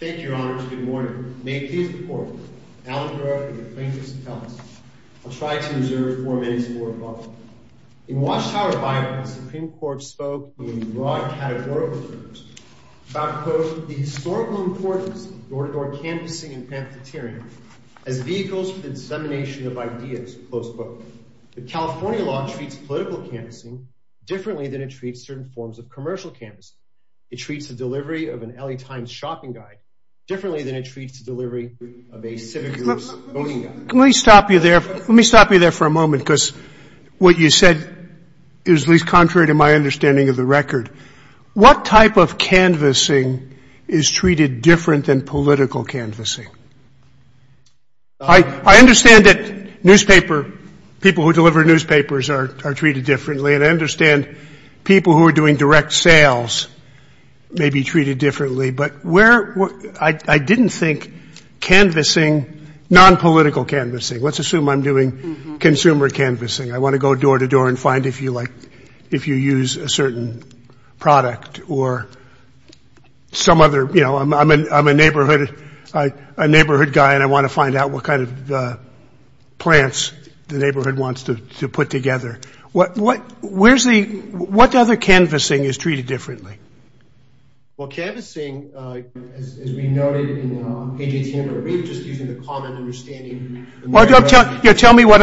Thank you, Your Honors. Good morning. May it please the Court, that I, Alan Garoff, be the plaintiff's attellant. I'll try to reserve four minutes or above. In Watchtower Bible, the Supreme Court spoke in broad categorical terms about, quote, Let me stop you there for a moment because what you said is at least contrary to my understanding of the record. What type of canvassing is treated different than political canvassing? I understand that newspaper, people who deliver newspapers are treated differently. And I understand people who are doing direct sales may be treated differently. But where, I didn't think canvassing, nonpolitical canvassing, let's assume I'm doing consumer canvassing. I want to go door to door and find if you use a certain product or some other. I'm a neighborhood guy and I want to find out what kind of plants the neighborhood wants to put together. What other canvassing is treated differently? Well, canvassing, as we noted in page 18 of our brief, just using the common understanding. Tell me what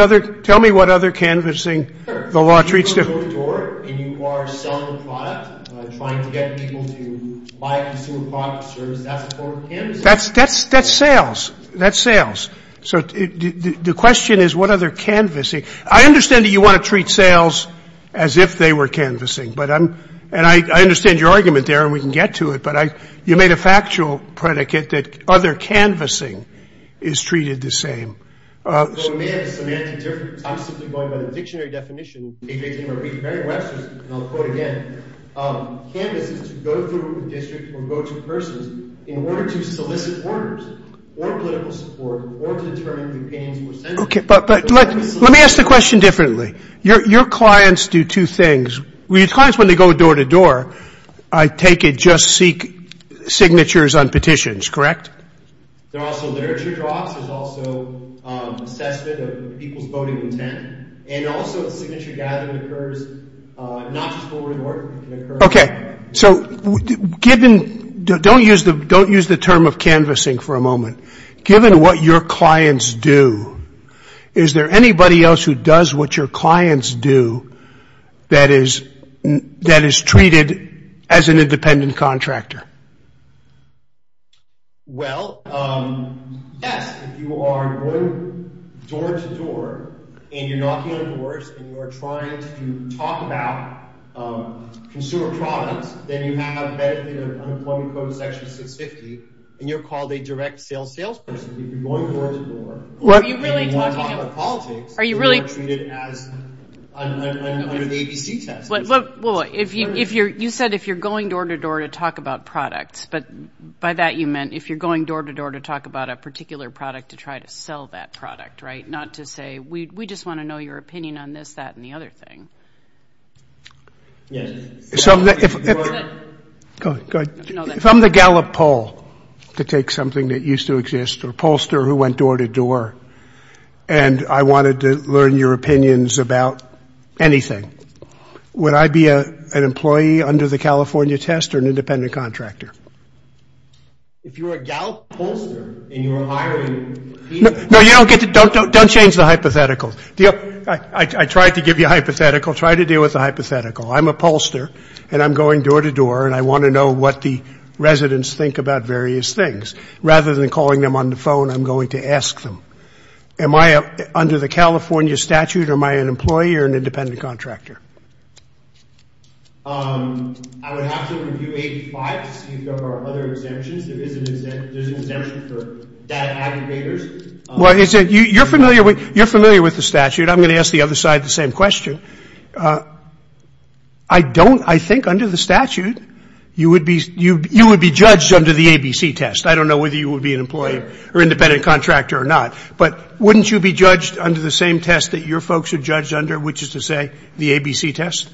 other canvassing the law treats differently. You go door to door and you are selling a product, trying to get people to buy a consumer product or service. That's a form of canvassing. That's sales. That's sales. So the question is what other canvassing. I understand that you want to treat sales as if they were canvassing. And I understand your argument there and we can get to it. But you made a factual predicate that other canvassing is treated the same. So it may have a semantic difference. I'm simply going by the dictionary definition in page 18 of our brief. And I'll quote again. Canvass is to go through a district or go to persons in order to solicit orders or political support or to determine the opinions of a senator. But let me ask the question differently. Your clients do two things. Your clients, when they go door to door, I take it just seek signatures on petitions, correct? There are also literature drops. There's also assessment of people's voting intent. And also signature gathering occurs, not just forward and forward. Okay. So don't use the term of canvassing for a moment. Given what your clients do, is there anybody else who does what your clients do that is treated as an independent contractor? Well, yes. If you are going door to door and you're knocking on doors and you're trying to talk about consumer products, then you have a benefit of unemployment quota section 650 and you're called a direct sales salesperson. If you're going door to door and you want to talk about politics, you are treated as unemployment under the ABC test. Well, you said if you're going door to door to talk about products, but by that you meant if you're going door to door to talk about a particular product to try to sell that product, right? Not to say we just want to know your opinion on this, that, and the other thing. Yes. Go ahead. If I'm the Gallup poll to take something that used to exist or pollster who went door to door and I wanted to learn your opinions about anything, would I be an employee under the California test or an independent contractor? If you were a Gallup pollster and you were hiring people. No, you don't get to – don't change the hypothetical. I tried to give you a hypothetical. Try to deal with the hypothetical. I'm a pollster and I'm going door to door and I want to know what the residents think about various things. Rather than calling them on the phone, I'm going to ask them. Am I under the California statute or am I an employee or an independent contractor? I would have to review 85 to see if there are other exemptions. There is an exemption for data aggregators. You're familiar with the statute. I'm going to ask the other side the same question. I don't – I think under the statute you would be judged under the ABC test. I don't know whether you would be an employee or independent contractor or not, but wouldn't you be judged under the same test that your folks are judged under, which is to say the ABC test?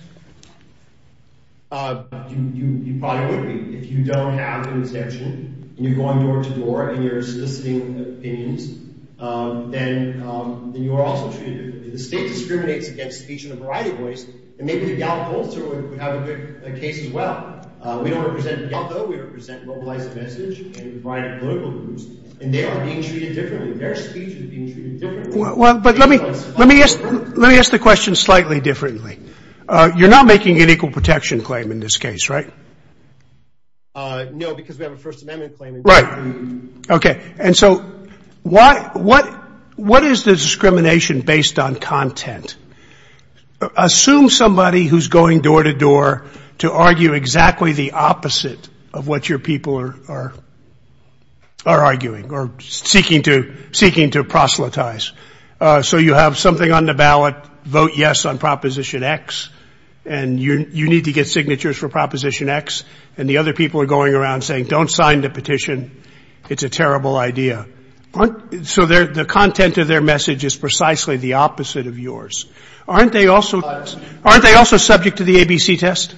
You probably wouldn't be. If you don't have an exemption and you're going door to door and you're soliciting opinions, then you are also treated – the state discriminates against speech in a variety of ways and maybe the Gallup pollster would have a good case as well. We don't represent Gallup. We represent Globalized Message and a variety of political groups, and they are being treated differently. Their speech is being treated differently. Let me ask the question slightly differently. You're not making an equal protection claim in this case, right? No, because we have a First Amendment claim. Right. Okay. And so what is the discrimination based on content? Assume somebody who's going door to door to argue exactly the opposite of what your people are arguing or seeking to proselytize. So you have something on the ballot, vote yes on Proposition X, and you need to get signatures for Proposition X, and the other people are going around saying don't sign the petition, it's a terrible idea. So the content of their message is precisely the opposite of yours. Aren't they also subject to the ABC test?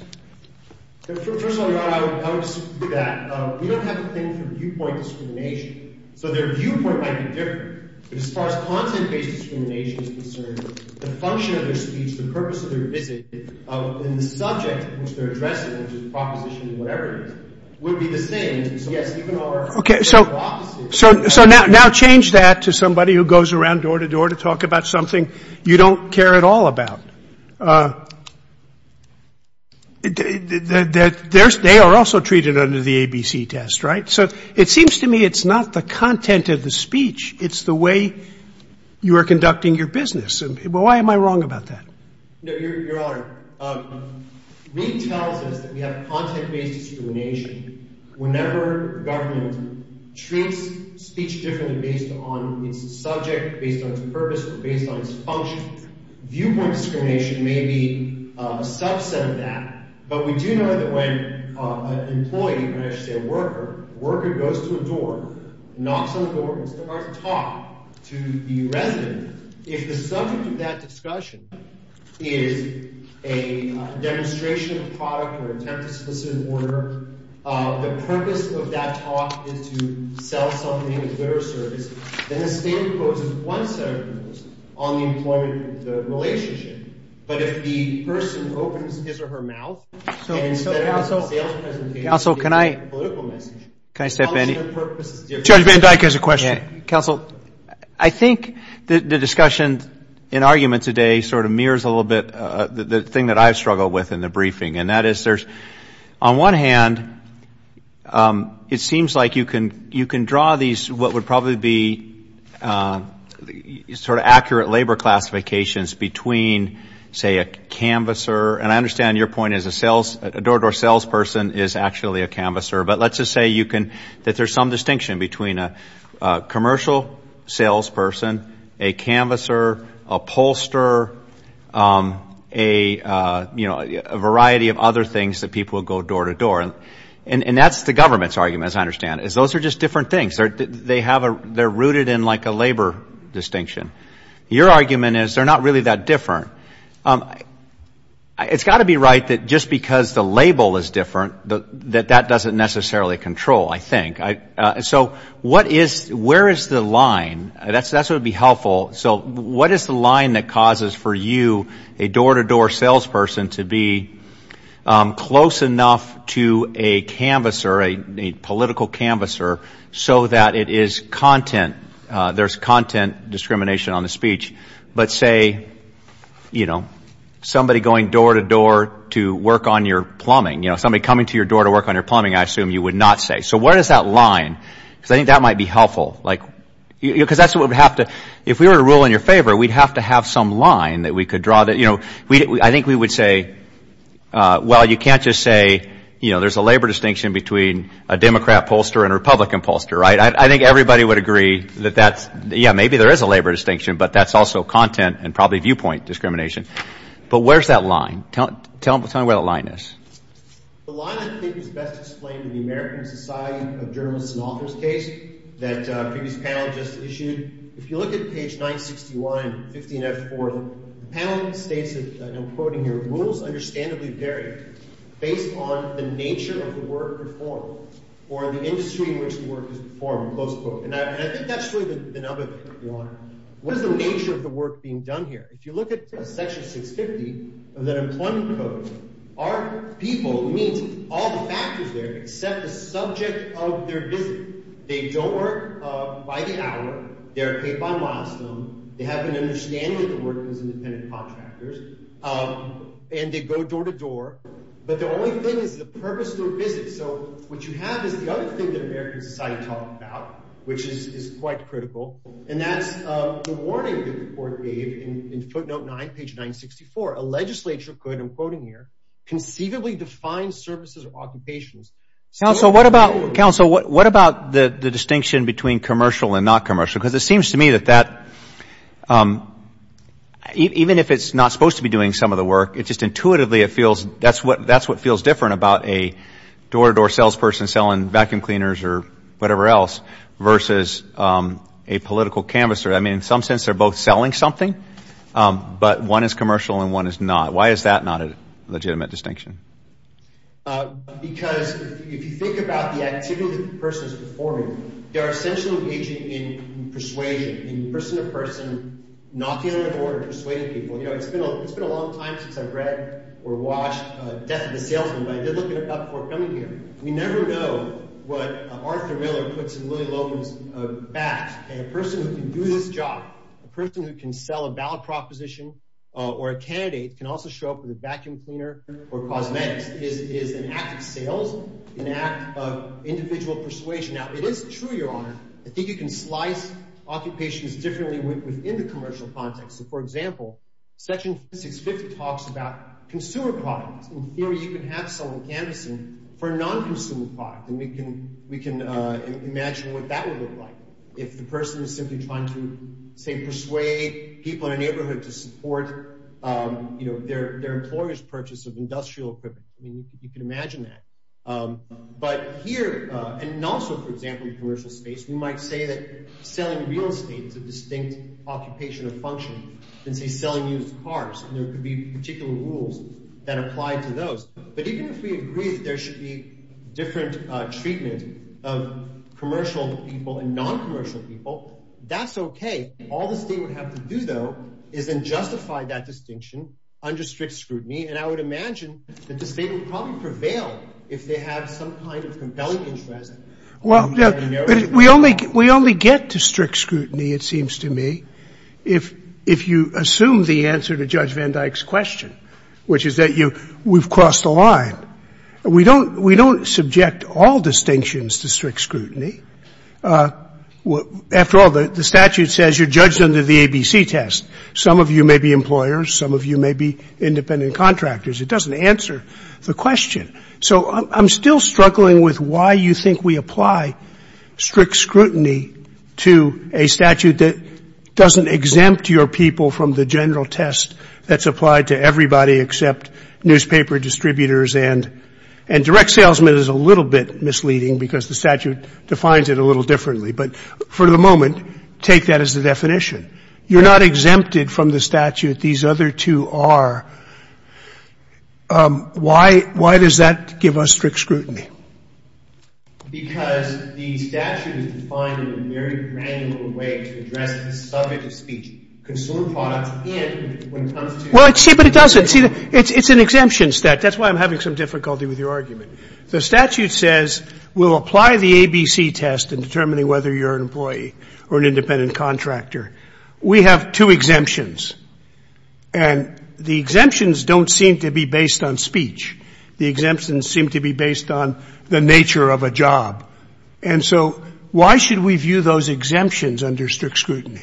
First of all, I would disagree with that. We don't have the thing for viewpoint discrimination. So their viewpoint might be different. But as far as content-based discrimination is concerned, the function of their speech, the purpose of their visit, and the subject in which they're addressing, which is Proposition X or whatever it is, would be the same. Okay. So now change that to somebody who goes around door to door to talk about something you don't care at all about. They are also treated under the ABC test, right? So it seems to me it's not the content of the speech, it's the way you are conducting your business. Why am I wrong about that? Your Honor, Reid tells us that we have content-based discrimination whenever government treats speech differently based on its subject, based on its purpose, or based on its function. Viewpoint discrimination may be a subset of that, but we do know that when an employee, when I say a worker, a worker goes to a door, knocks on the door, and starts to talk to the resident, if the subject of that discussion is a demonstration of product or attempt to solicit an order, the purpose of that talk is to sell something as their service, then the state imposes one set of rules on the employment relationship. But if the person opens his or her mouth, and instead of a sales presentation, it's a political message, how much of their purpose is different? Judge Van Dyke has a question. Counsel, I think the discussion in argument today sort of mirrors a little bit the thing that I struggle with in the briefing, and that is there's, on one hand, it seems like you can draw these, what would probably be sort of accurate labor classifications between, say, a canvasser, and I understand your point is a door-to-door salesperson is actually a canvasser, but let's just say you can, that there's some distinction between a commercial salesperson, a canvasser, a pollster, a, you know, a variety of other things that people go door-to-door. And that's the government's argument, as I understand it, is those are just different things. They have a, they're rooted in like a labor distinction. Your argument is they're not really that different. It's got to be right that just because the label is different, that that doesn't necessarily control, I think. So what is, where is the line? That's what would be helpful. So what is the line that causes for you, a door-to-door salesperson, to be close enough to a canvasser, a political canvasser, so that it is content, there's content discrimination on the speech, but say, you know, somebody going door-to-door to work on your plumbing, you know, somebody coming to your door to work on your plumbing, I assume you would not say. So where does that line, because I think that might be helpful, like, because that's what would have to, if we were to rule in your favor, we'd have to have some line that we could draw that, you know, I think we would say, well, you can't just say, you know, there's a labor distinction between a Democrat pollster and a Republican pollster, right? I think everybody would agree that that's, yeah, maybe there is a labor distinction, but that's also content and probably viewpoint discrimination. But where's that line? Tell me where the line is. The line I think is best explained in the American Society of Journalists and Authors case that a previous panel just issued. If you look at page 961 and 15F4, the panel states, and I'm quoting here, the rules understandably vary based on the nature of the work performed or the industry in which the work is performed. And I think that's really the number one. What is the nature of the work being done here? If you look at section 650 of that employment code, our people meet all the factors there except the subject of their visit. They don't work by the hour. They are paid by milestone. They have an understanding that they work as independent contractors, and they go door to door. But the only thing is the purpose of their visit. So what you have is the other thing that the American Society talked about, which is quite critical, and that's the warning that the court gave in footnote 9, page 964. A legislature could, I'm quoting here, conceivably define services or occupations. Counsel, what about the distinction between commercial and not commercial? Because it seems to me that that, even if it's not supposed to be doing some of the work, it just intuitively it feels that's what feels different about a door-to-door salesperson selling vacuum cleaners or whatever else versus a political canvasser. I mean, in some sense they're both selling something, but one is commercial and one is not. Why is that not a legitimate distinction? Because if you think about the activity the person is performing, they are essentially engaging in persuasion, in person-to-person, knocking on the door and persuading people. You know, it's been a long time since I've read or watched Death of a Salesman, but I did look it up before coming here. We never know what Arthur Miller puts in Lily Logan's bag. A person who can do this job, a person who can sell a ballot proposition or a candidate, can also show up with a vacuum cleaner or cosmetics. It is an act of sales, an act of individual persuasion. Now, it is true, Your Honor, I think you can slice occupations differently within the commercial context. So, for example, Section 650 talks about consumer products. In theory, you can have someone canvassing for a non-consumer product, and we can imagine what that would look like. If the person is simply trying to, say, persuade people in a neighborhood to support their employer's purchase of industrial equipment, you can imagine that. But here, and also, for example, in commercial space, we might say that selling real estate is a distinct occupation or function than, say, selling used cars, and there could be particular rules that apply to those. But even if we agree that there should be different treatment of commercial people and non-commercial people, that's okay. All the state would have to do, though, is then justify that distinction under strict scrutiny, and I would imagine that the state would probably prevail if they had some kind of compelling interest. Well, we only get to strict scrutiny, it seems to me, if you assume the answer to Judge Van Dyck's question, which is that we've crossed the line. We don't subject all distinctions to strict scrutiny. After all, the statute says you're judged under the ABC test. Some of you may be employers. Some of you may be independent contractors. It doesn't answer the question. So I'm still struggling with why you think we apply strict scrutiny to a statute that doesn't exempt your people from the general test that's applied to everybody except newspaper distributors and direct salesmen is a little bit misleading because the statute defines it a little differently. But for the moment, take that as the definition. You're not exempted from the statute. These other two are. Why does that give us strict scrutiny? Well, see, but it doesn't. See, it's an exemption statute. That's why I'm having some difficulty with your argument. The statute says we'll apply the ABC test in determining whether you're an employee or an independent contractor. We have two exemptions, and the exemptions don't seem to be based on speech. The exemptions seem to be based on the nature of a job. And so why should we view those exemptions under strict scrutiny?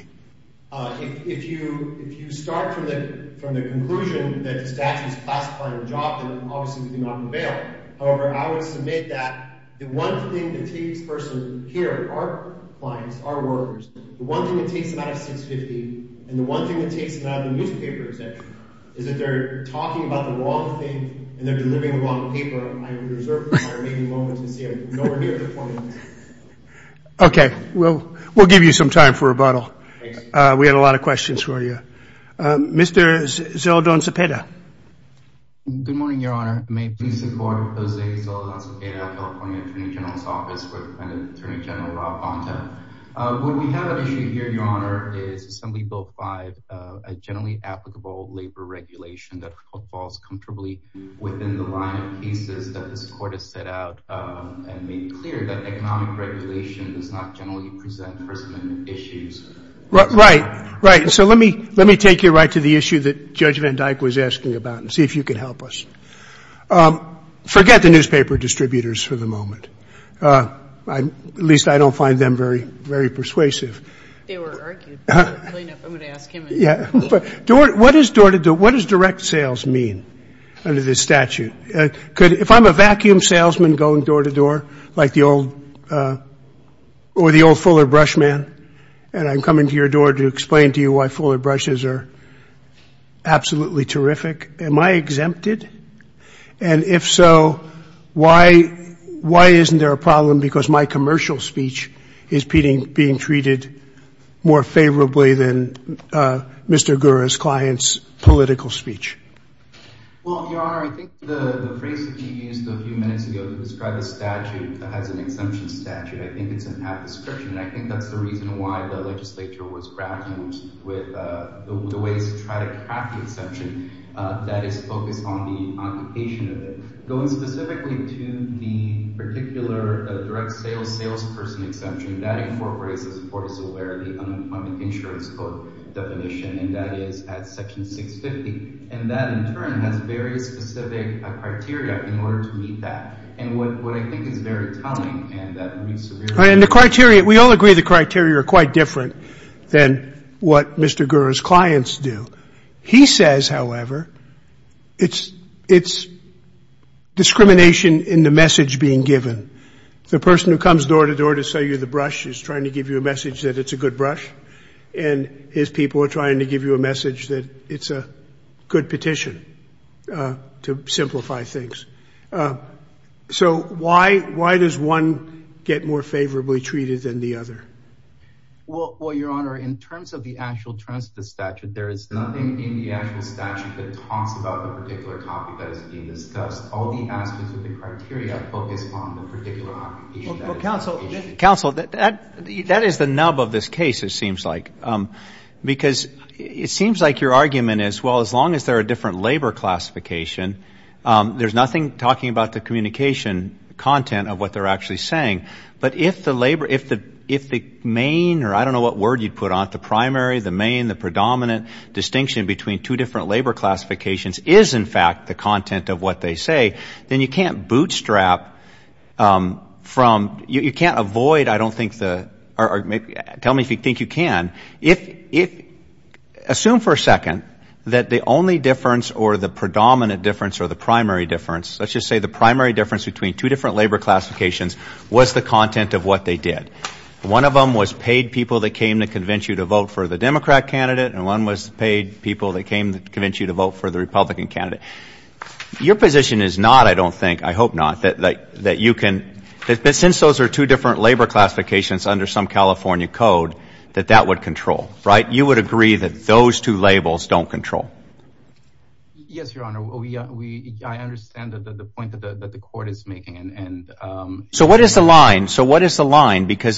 If you start from the conclusion that the statute is classifying the job, then obviously we do not avail. However, I would submit that the one thing that takes a person here, our clients, our workers, the one thing that takes them out of 650 and the one thing that takes them out of the newspaper exemption is that they're talking about the wrong thing and they're delivering the wrong paper. I would reserve my remaining moments to see a majority of the points. Okay. Well, we'll give you some time for rebuttal. Thanks. We had a lot of questions for you. Mr. Zeldon-Cepeda. Good morning, Your Honor. May it please the Court. Jose Zeldon-Cepeda, California Attorney General's Office, with Attorney General Rob Ponta. What we have at issue here, Your Honor, is Assembly Bill 5, a generally applicable labor regulation that falls comfortably within the line of cases that this Court has set out and made clear that economic regulation does not generally present person issues. Right. Right. So let me take you right to the issue that Judge Van Dyke was asking about and see if you can help us. Forget the newspaper distributors for the moment. At least I don't find them very persuasive. They were argued. I'm going to ask him. Yeah. What does direct sales mean under this statute? If I'm a vacuum salesman going door to door like the old Fuller Brush Man and I'm coming to your door to explain to you why Fuller Brushes are absolutely terrific, am I exempted? And if so, why isn't there a problem? Because my commercial speech is being treated more favorably than Mr. Gura's client's political speech. Well, Your Honor, I think the phrase that you used a few minutes ago to describe a statute that has an exemption statute, I think it's a bad description, and I think that's the reason why the legislature was grappling with the ways to try to craft an exemption that is focused on the occupation of it. Going specifically to the particular direct sales salesperson exemption, that incorporates, as the Court is aware, the Unemployment Insurance Code definition, and that is at Section 650. And that, in turn, has very specific criteria in order to meet that. And what I think is very telling and that would be severe. And the criteria, we all agree the criteria are quite different than what Mr. Gura's clients do. He says, however, it's discrimination in the message being given. The person who comes door to door to sell you the brush is trying to give you a message that it's a good brush, and his people are trying to give you a message that it's a good petition to simplify things. So why does one get more favorably treated than the other? Well, Your Honor, in terms of the actual transfer statute, there is nothing in the actual statute that talks about the particular topic that is being discussed. All the aspects of the criteria focus on the particular occupation. Counsel, that is the nub of this case, it seems like. Because it seems like your argument is, well, as long as there are different labor classification, there's nothing talking about the communication content of what they're actually saying. But if the labor, if the main, or I don't know what word you'd put on it, the primary, the main, the predominant distinction between two different labor classifications is, in fact, the content of what they say, then you can't bootstrap from, you can't avoid, I don't think the, tell me if you think you can. If, assume for a second that the only difference or the predominant difference or the primary difference, let's just say the primary difference between two different labor classifications was the content of what they did. One of them was paid people that came to convince you to vote for the Democrat candidate, and one was paid people that came to convince you to vote for the Republican candidate. Your position is not, I don't think, I hope not, that you can, that since those are two different labor classifications under some California code, that that would control, right? You would agree that those two labels don't control. Yes, Your Honor. I understand the point that the court is making. So what is the line? So what is the line? Because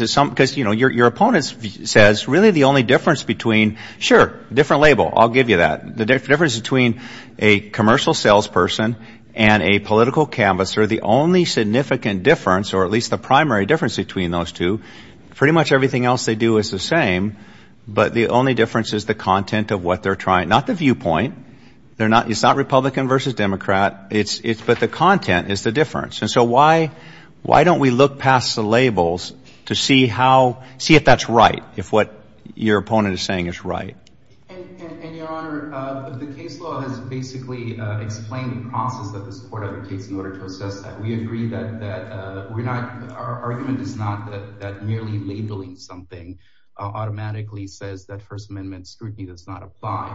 your opponent says really the only difference between, sure, different label, I'll give you that. The difference between a commercial salesperson and a political canvasser, the only significant difference or at least the primary difference between those two, pretty much everything else they do is the same, but the only difference is the content of what they're trying, not the viewpoint. It's not Republican versus Democrat, but the content is the difference. And so why don't we look past the labels to see how, see if that's right, if what your opponent is saying is right. And, Your Honor, the case law has basically explained the process that this court advocates in order to assess that. We agree that we're not, our argument is not that merely labeling something automatically says that First Amendment scrutiny does not apply.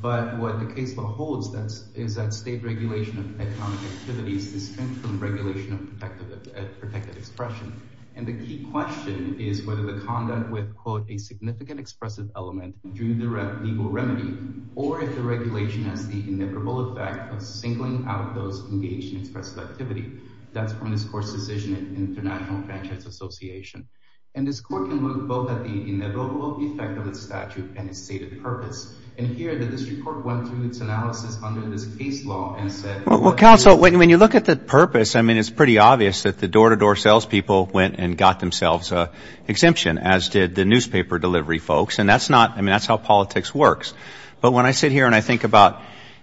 But what the case law holds is that state regulation of economic activity is distinct from regulation of protected expression. And the key question is whether the content would quote a significant expressive element due to the legal remedy, or if the regulation has the inevitable effect of singling out those engaged in expressive activity. That's from this court's decision in International Franchise Association. And this court can look both at the inevitable effect of the statute and its stated purpose. And here the district court went through its analysis under this case law and said. Well, counsel, when you look at the purpose, I mean, it's pretty obvious that the door-to-door sales people went and got themselves an exemption, as did the newspaper delivery folks. And that's not, I mean, that's how politics works. But when I sit here and I think about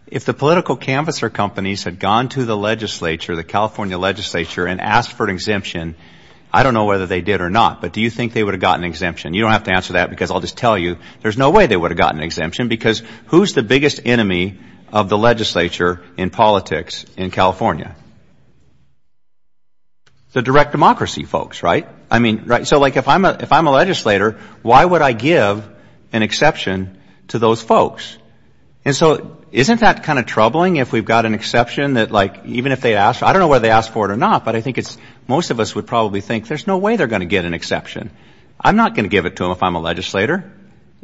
if the political canvasser companies had gone to the legislature, the California legislature, and asked for an exemption, I don't know whether they did or not, but do you think they would have gotten an exemption? You don't have to answer that because I'll just tell you there's no way they would have gotten an exemption because who's the biggest enemy of the legislature in politics in California? The direct democracy folks, right? I mean, so like if I'm a legislator, why would I give an exception to those folks? And so isn't that kind of troubling if we've got an exception that like even if they ask, I don't know whether they ask for it or not, but I think most of us would probably think there's no way they're going to get an exception. I'm not going to give it to them if I'm a legislator.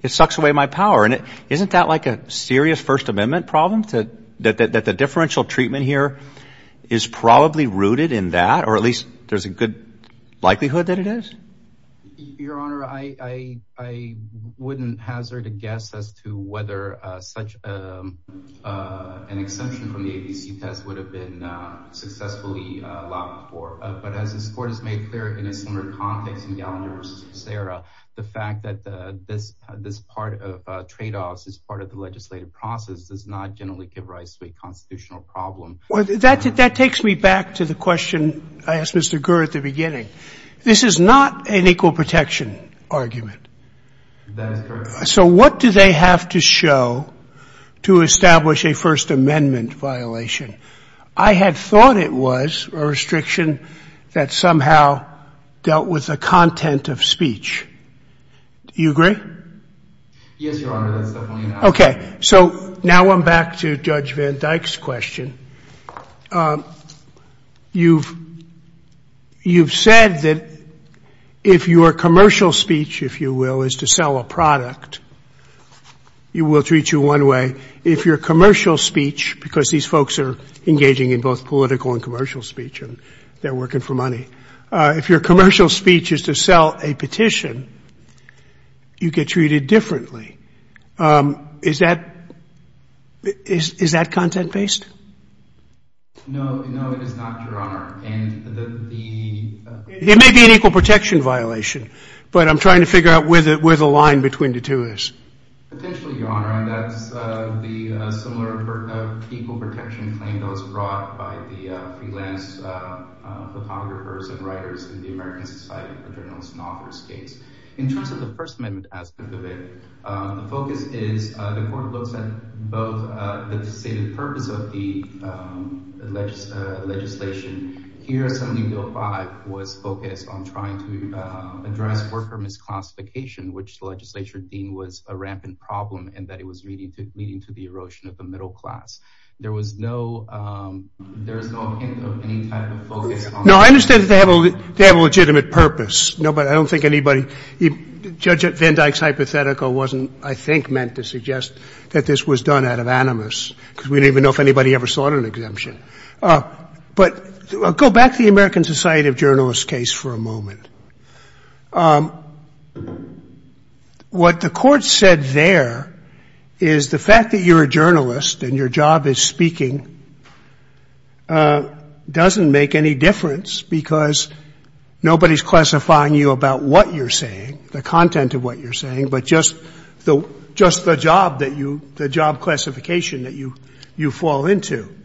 It sucks away my power. And isn't that like a serious First Amendment problem, that the differential treatment here is probably rooted in that or at least there's a good likelihood that it is? Your Honor, I wouldn't hazard a guess as to whether such an exemption from the ABC test would have been successfully allowed before. But as this Court has made clear in a similar context in Gallagher v. Serra, the fact that this part of tradeoffs is part of the legislative process does not generally give rise to a constitutional problem. That takes me back to the question I asked Mr. Gur at the beginning. This is not an equal protection argument. That is correct. So what do they have to show to establish a First Amendment violation? I had thought it was a restriction that somehow dealt with the content of speech. Do you agree? Yes, Your Honor, that's definitely an argument. Okay. So now I'm back to Judge Van Dyke's question. You've said that if your commercial speech, if you will, is to sell a product, you will treat you one way. If your commercial speech, because these folks are engaging in both political and commercial speech, and they're working for money, if your commercial speech is to sell a petition, you get treated differently. Is that content-based? No, it is not, Your Honor. It may be an equal protection violation, but I'm trying to figure out where the line between the two is. Potentially, Your Honor, and that's the similar equal protection claim that was brought by the freelance photographers and writers in the American Society for Journalists and Authors case. In terms of the First Amendment aspect of it, the focus is the court looks at both the stated purpose of the legislation. Here, Assembly Bill 5 was focused on trying to address worker misclassification, which the legislature deemed was a rampant problem and that it was leading to the erosion of the middle class. There was no hint of any type of focus on that. No, I understand that they have a legitimate purpose. Nobody, I don't think anybody, Judge Van Dyck's hypothetical wasn't, I think, meant to suggest that this was done out of animus because we didn't even know if anybody ever sought an exemption. But go back to the American Society of Journalists case for a moment. What the court said there is the fact that you're a journalist and your job is speaking doesn't make any difference because nobody's classifying you about what you're saying, the content of what you're saying, but just the job that you, the job classification that you fall into.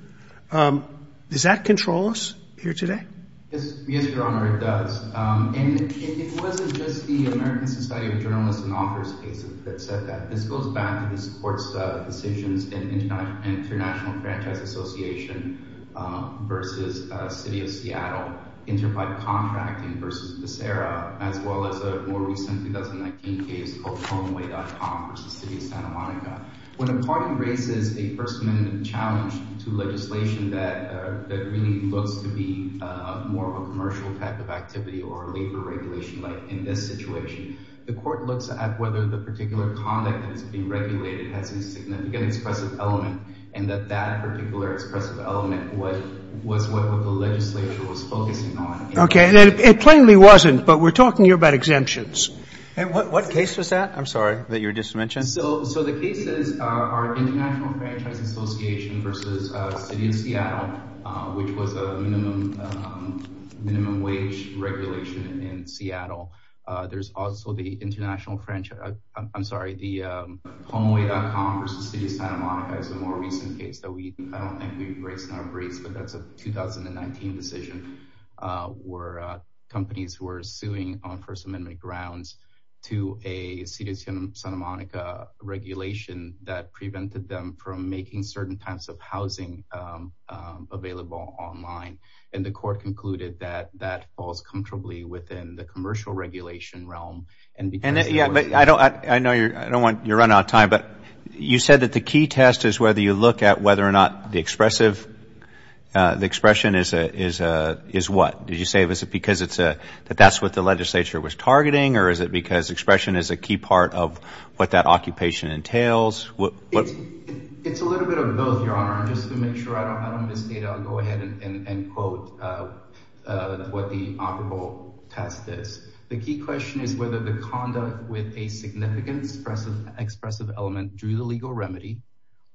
Does that control us here today? Yes, Your Honor, it does. And it wasn't just the American Society of Journalists and Authors case that said that. This goes back to this court's decisions in International Franchise Association v. City of Seattle, inter-pipe contracting v. Becerra, as well as a more recent 2019 case called Homeway.com v. City of Santa Monica. When a party raises a First Amendment challenge to legislation that really looks to be more of a commercial type of activity or labor regulation like in this situation, the court looks at whether the particular conduct that is being regulated has a significant expressive element and that that particular expressive element was what the legislature was focusing on. Okay. And it plainly wasn't, but we're talking here about exemptions. And what case was that? I'm sorry, that you were just mentioned. So the case is our International Franchise Association v. City of Seattle, which was a minimum wage regulation in Seattle. There's also the International Franchise, I'm sorry, the Homeway.com v. City of Santa Monica is a more recent case that we, I don't think we've raised in our briefs, but that's a 2019 decision, where companies were suing on First Amendment grounds to a City of Santa Monica regulation that prevented them from making certain types of housing available online. And the court concluded that that falls comfortably within the commercial regulation realm. And because- Yeah, but I don't, I know you're, I don't want you to run out of time, but you said that the key test is whether you look at whether or not the expressive, the expression is what? Did you say is it because it's a, that that's what the legislature was targeting, or is it because expression is a key part of what that occupation entails? It's a little bit of both, Your Honor. And just to make sure I don't miss data, I'll go ahead and quote what the operable test is. The key question is whether the conduct with a significant expressive element drew the legal remedy,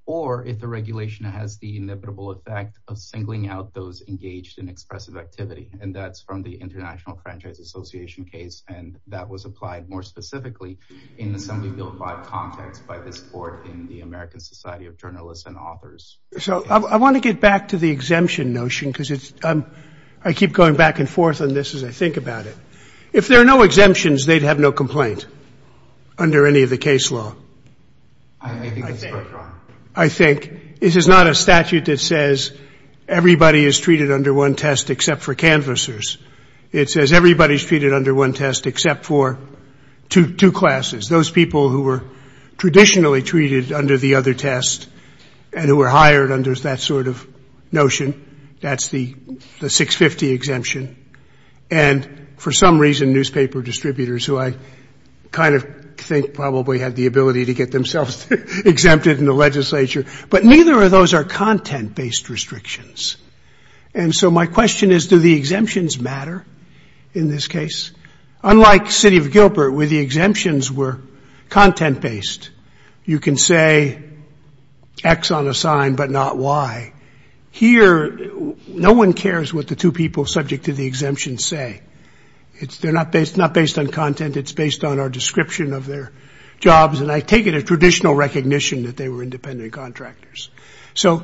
or if the regulation has the inevitable effect of singling out those engaged in expressive activity. And that's from the International Franchise Association case, and that was applied more specifically in the Assembly Bill V context by this court in the American Society of Journalists and Authors. So I want to get back to the exemption notion, because it's, I keep going back and forth on this as I think about it. If there are no exemptions, they'd have no complaint under any of the case law. I think that's correct, Your Honor. I think. This is not a statute that says everybody is treated under one test except for canvassers. It says everybody's treated under one test except for two classes, those people who were traditionally treated under the other test and who were hired under that sort of notion. That's the 650 exemption. And for some reason, newspaper distributors, who I kind of think probably had the ability to get themselves exempted in the legislature, but neither of those are content-based restrictions. And so my question is, do the exemptions matter in this case? Unlike City of Gilbert, where the exemptions were content-based, you can say X on a sign but not Y. Here, no one cares what the two people subject to the exemption say. They're not based on content. It's based on our description of their jobs. And I take it a traditional recognition that they were independent contractors. So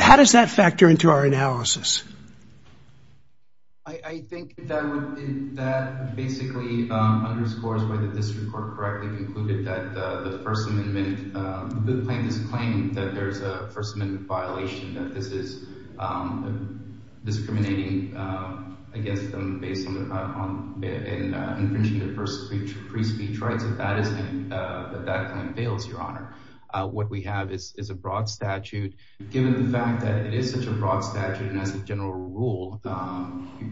how does that factor into our analysis? I think that basically underscores why the district court correctly concluded that the first amendment, the plan is claiming that there is a first amendment violation, that this is discriminating, I guess, based on infringing the first pre-speech rights. If that isn't, then that plan fails, Your Honor. What we have is a broad statute. Given the fact that it is such a broad statute and has a general rule,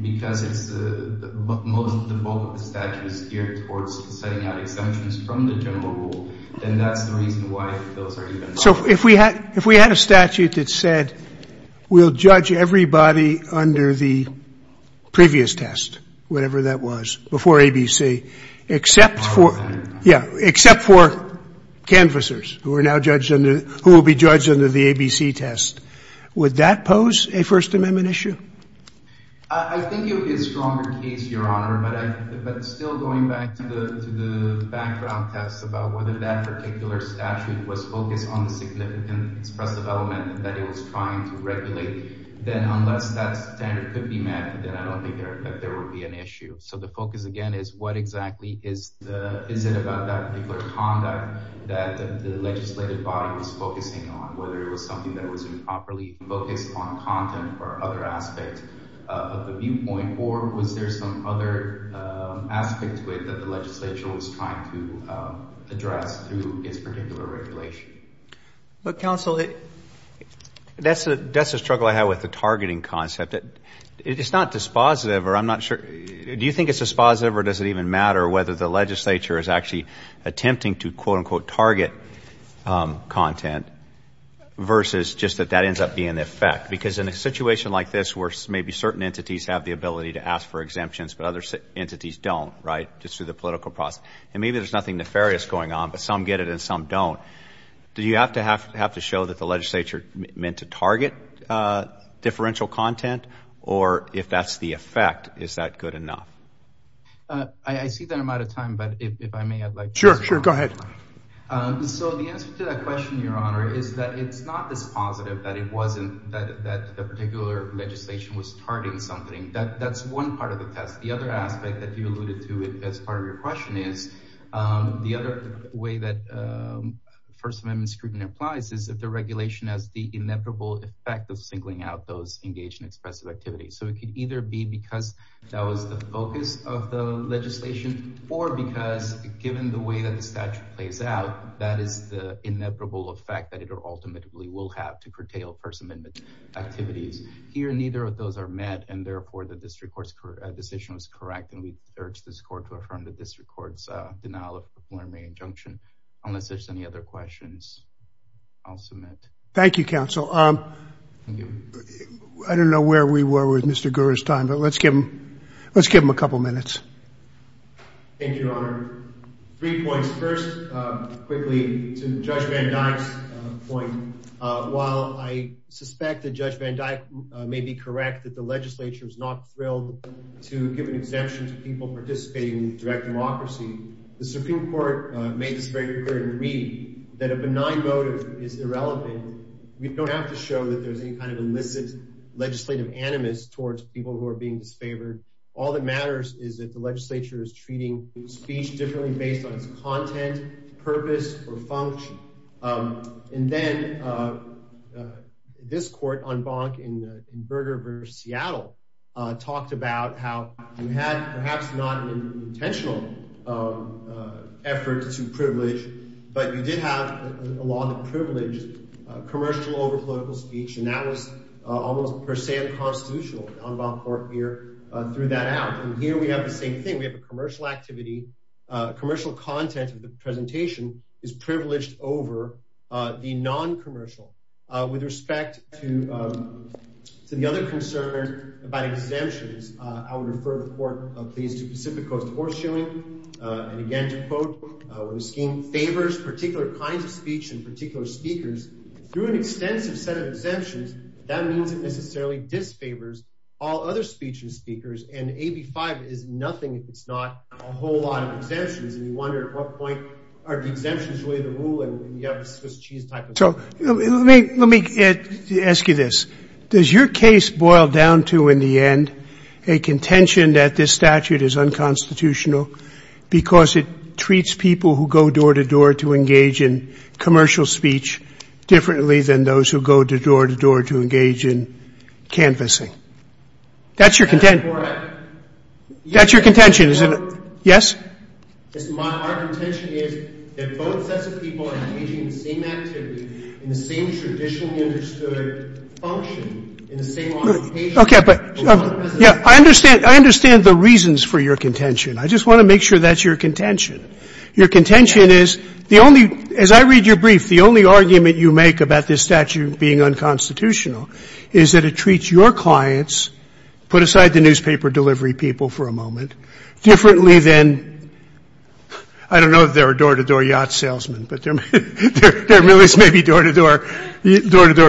because most of the bulk of the statute is geared towards setting out exemptions from the general rule, then that's the reason why those are even. So if we had a statute that said we'll judge everybody under the previous test, whatever that was, before ABC, except for canvassers who will be judged under the ABC test, would that pose a first amendment issue? I think it would be a stronger case, Your Honor, but still going back to the background test about whether that particular statute was focused on the significant expressive element that it was trying to regulate, then unless that standard could be met, then I don't think there would be an issue. So the focus, again, is what exactly is it about that particular conduct that the legislative body was focusing on, whether it was something that was improperly focused on content or other aspects of the viewpoint, or was there some other aspect to it that the legislature was trying to address through its particular regulation? But, counsel, that's a struggle I have with the targeting concept. It's not dispositive, or I'm not sure. Do you think it's dispositive, or does it even matter whether the legislature is actually attempting to, quote, unquote, target content versus just that that ends up being an effect? Because in a situation like this where maybe certain entities have the ability to ask for exemptions, but other entities don't, right, just through the political process, and maybe there's nothing nefarious going on, but some get it and some don't, do you have to show that the legislature meant to target differential content, or if that's the effect, is that good enough? I see that I'm out of time, but if I may, I'd like to respond. Sure, sure, go ahead. So the answer to that question, Your Honor, is that it's not dispositive that it wasn't that the particular legislation was targeting something. That's one part of the test. The other aspect that you alluded to as part of your question is the other way that First Amendment scrutiny applies is that the regulation has the inevitable effect of singling out those engaged in expressive activity. So it could either be because that was the focus of the legislation, or because given the way that the statute plays out, that is the inevitable effect that it ultimately will have to curtail First Amendment activities. Here, neither of those are met, and therefore, the district court's decision was correct, and we urge this court to affirm the district court's denial of the former injunction. Unless there's any other questions, I'll submit. Thank you, counsel. I don't know where we were with Mr. Gurur's time, but let's give him a couple minutes. Thank you, Your Honor. Three points. First, quickly, to Judge Van Dyke's point, while I suspect that Judge Van Dyke may be correct that the legislature is not thrilled to give an exemption to people participating in direct democracy, the Supreme Court made this very clear in reading that a benign motive is irrelevant. We don't have to show that there's any kind of illicit legislative animus towards people who are being disfavored. All that matters is that the legislature is treating speech differently based on its content, purpose, or function. And then this court, En banc in Berger v. Seattle, talked about how you had perhaps not an intentional effort to privilege, but you did have a law that privileged commercial over political speech, and that was almost per se unconstitutional. En banc court here threw that out. And here we have the same thing. We have a commercial activity. Commercial content of the presentation is privileged over the non-commercial. With respect to the other concern about exemptions, I would refer the court, please, to Pacific Coast Horse Showing. And again, to quote, when a scheme favors particular kinds of speech and particular speakers, through an extensive set of exemptions, that means it necessarily disfavors all other speech and speakers, and AB 5 is nothing if it's not a whole lot of exemptions. And you wonder at what point are the exemptions really the rule, and you have this Swiss cheese type of thing. Let me ask you this. Does your case boil down to, in the end, a contention that this statute is unconstitutional because it treats people who go door-to-door to engage in commercial speech differently than those who go door-to-door to engage in canvassing? That's your contention. That's your contention, isn't it? Yes? Our contention is that both sets of people are engaging in the same activity, in the same traditionally understood function, in the same occupation. Okay, but I understand the reasons for your contention. I just want to make sure that's your contention. Your contention is, as I read your brief, the only argument you make about this statute being unconstitutional is that it treats your clients, put aside the newspaper delivery people for a moment, differently than, I don't know if there are door-to-door yacht salesmen, but there really may be door-to-door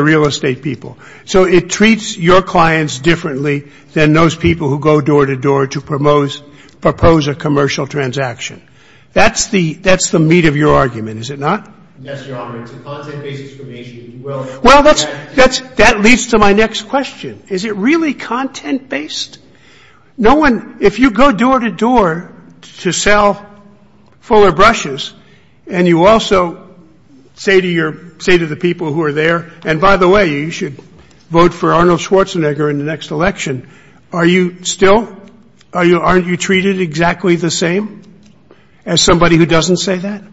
real estate people. So it treats your clients differently than those people who go door-to-door to propose a commercial transaction. That's the meat of your argument, is it not? Yes, Your Honor. It's a content-based exclamation. Well, that leads to my next question. Is it really content-based? If you go door-to-door to sell fuller brushes and you also say to the people who are there, and by the way, you should vote for Arnold Schwarzenegger in the next election, are you still, aren't you treated exactly the same as somebody who doesn't say that?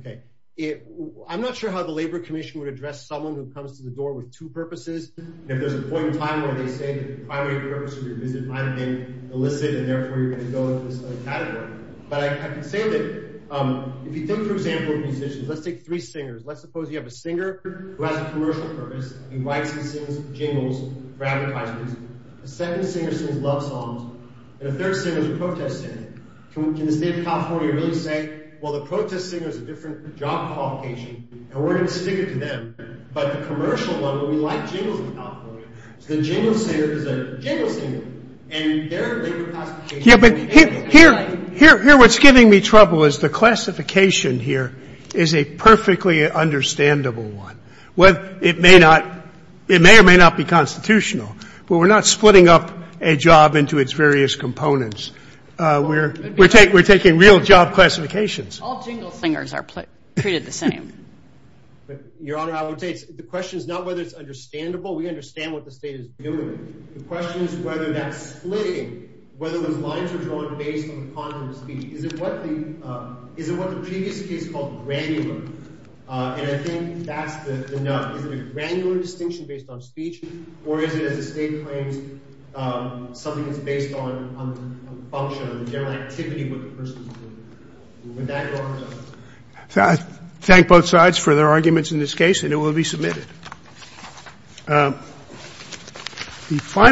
Okay. I'm not sure how the Labor Commission would address someone who comes to the door with two purposes. If there's a point in time where they say that the primary purpose of your visit might have been illicit, and therefore you're going to go into this other category. But I can say that if you think, for example, of musicians, let's take three singers. Let's suppose you have a singer who has a commercial purpose. He writes and sings jingles for advertisements. A second singer sings love songs, and a third singer is a protest singer. Can the State of California really say, well, the protest singer has a different job qualification, and we're going to stick it to them? But the commercial level, we like jingles in California. So the jingle singer is a jingle singer, and their labor classification is illegal. Here what's giving me trouble is the classification here is a perfectly understandable one. It may or may not be constitutional, but we're not splitting up a job into its various components. We're taking real job classifications. All jingle singers are treated the same. Your Honor, I would say the question is not whether it's understandable. We understand what the state is doing. The question is whether that's splitting, whether those lines are drawn based on the content of speech. Is it what the previous case called granular? And I think that's the nut. Is it a granular distinction based on speech, or is it, as the state claims, something that's based on function, on the general activity of what the person is doing? With that, Your Honor. I thank both sides for their arguments in this case, and it will be submitted.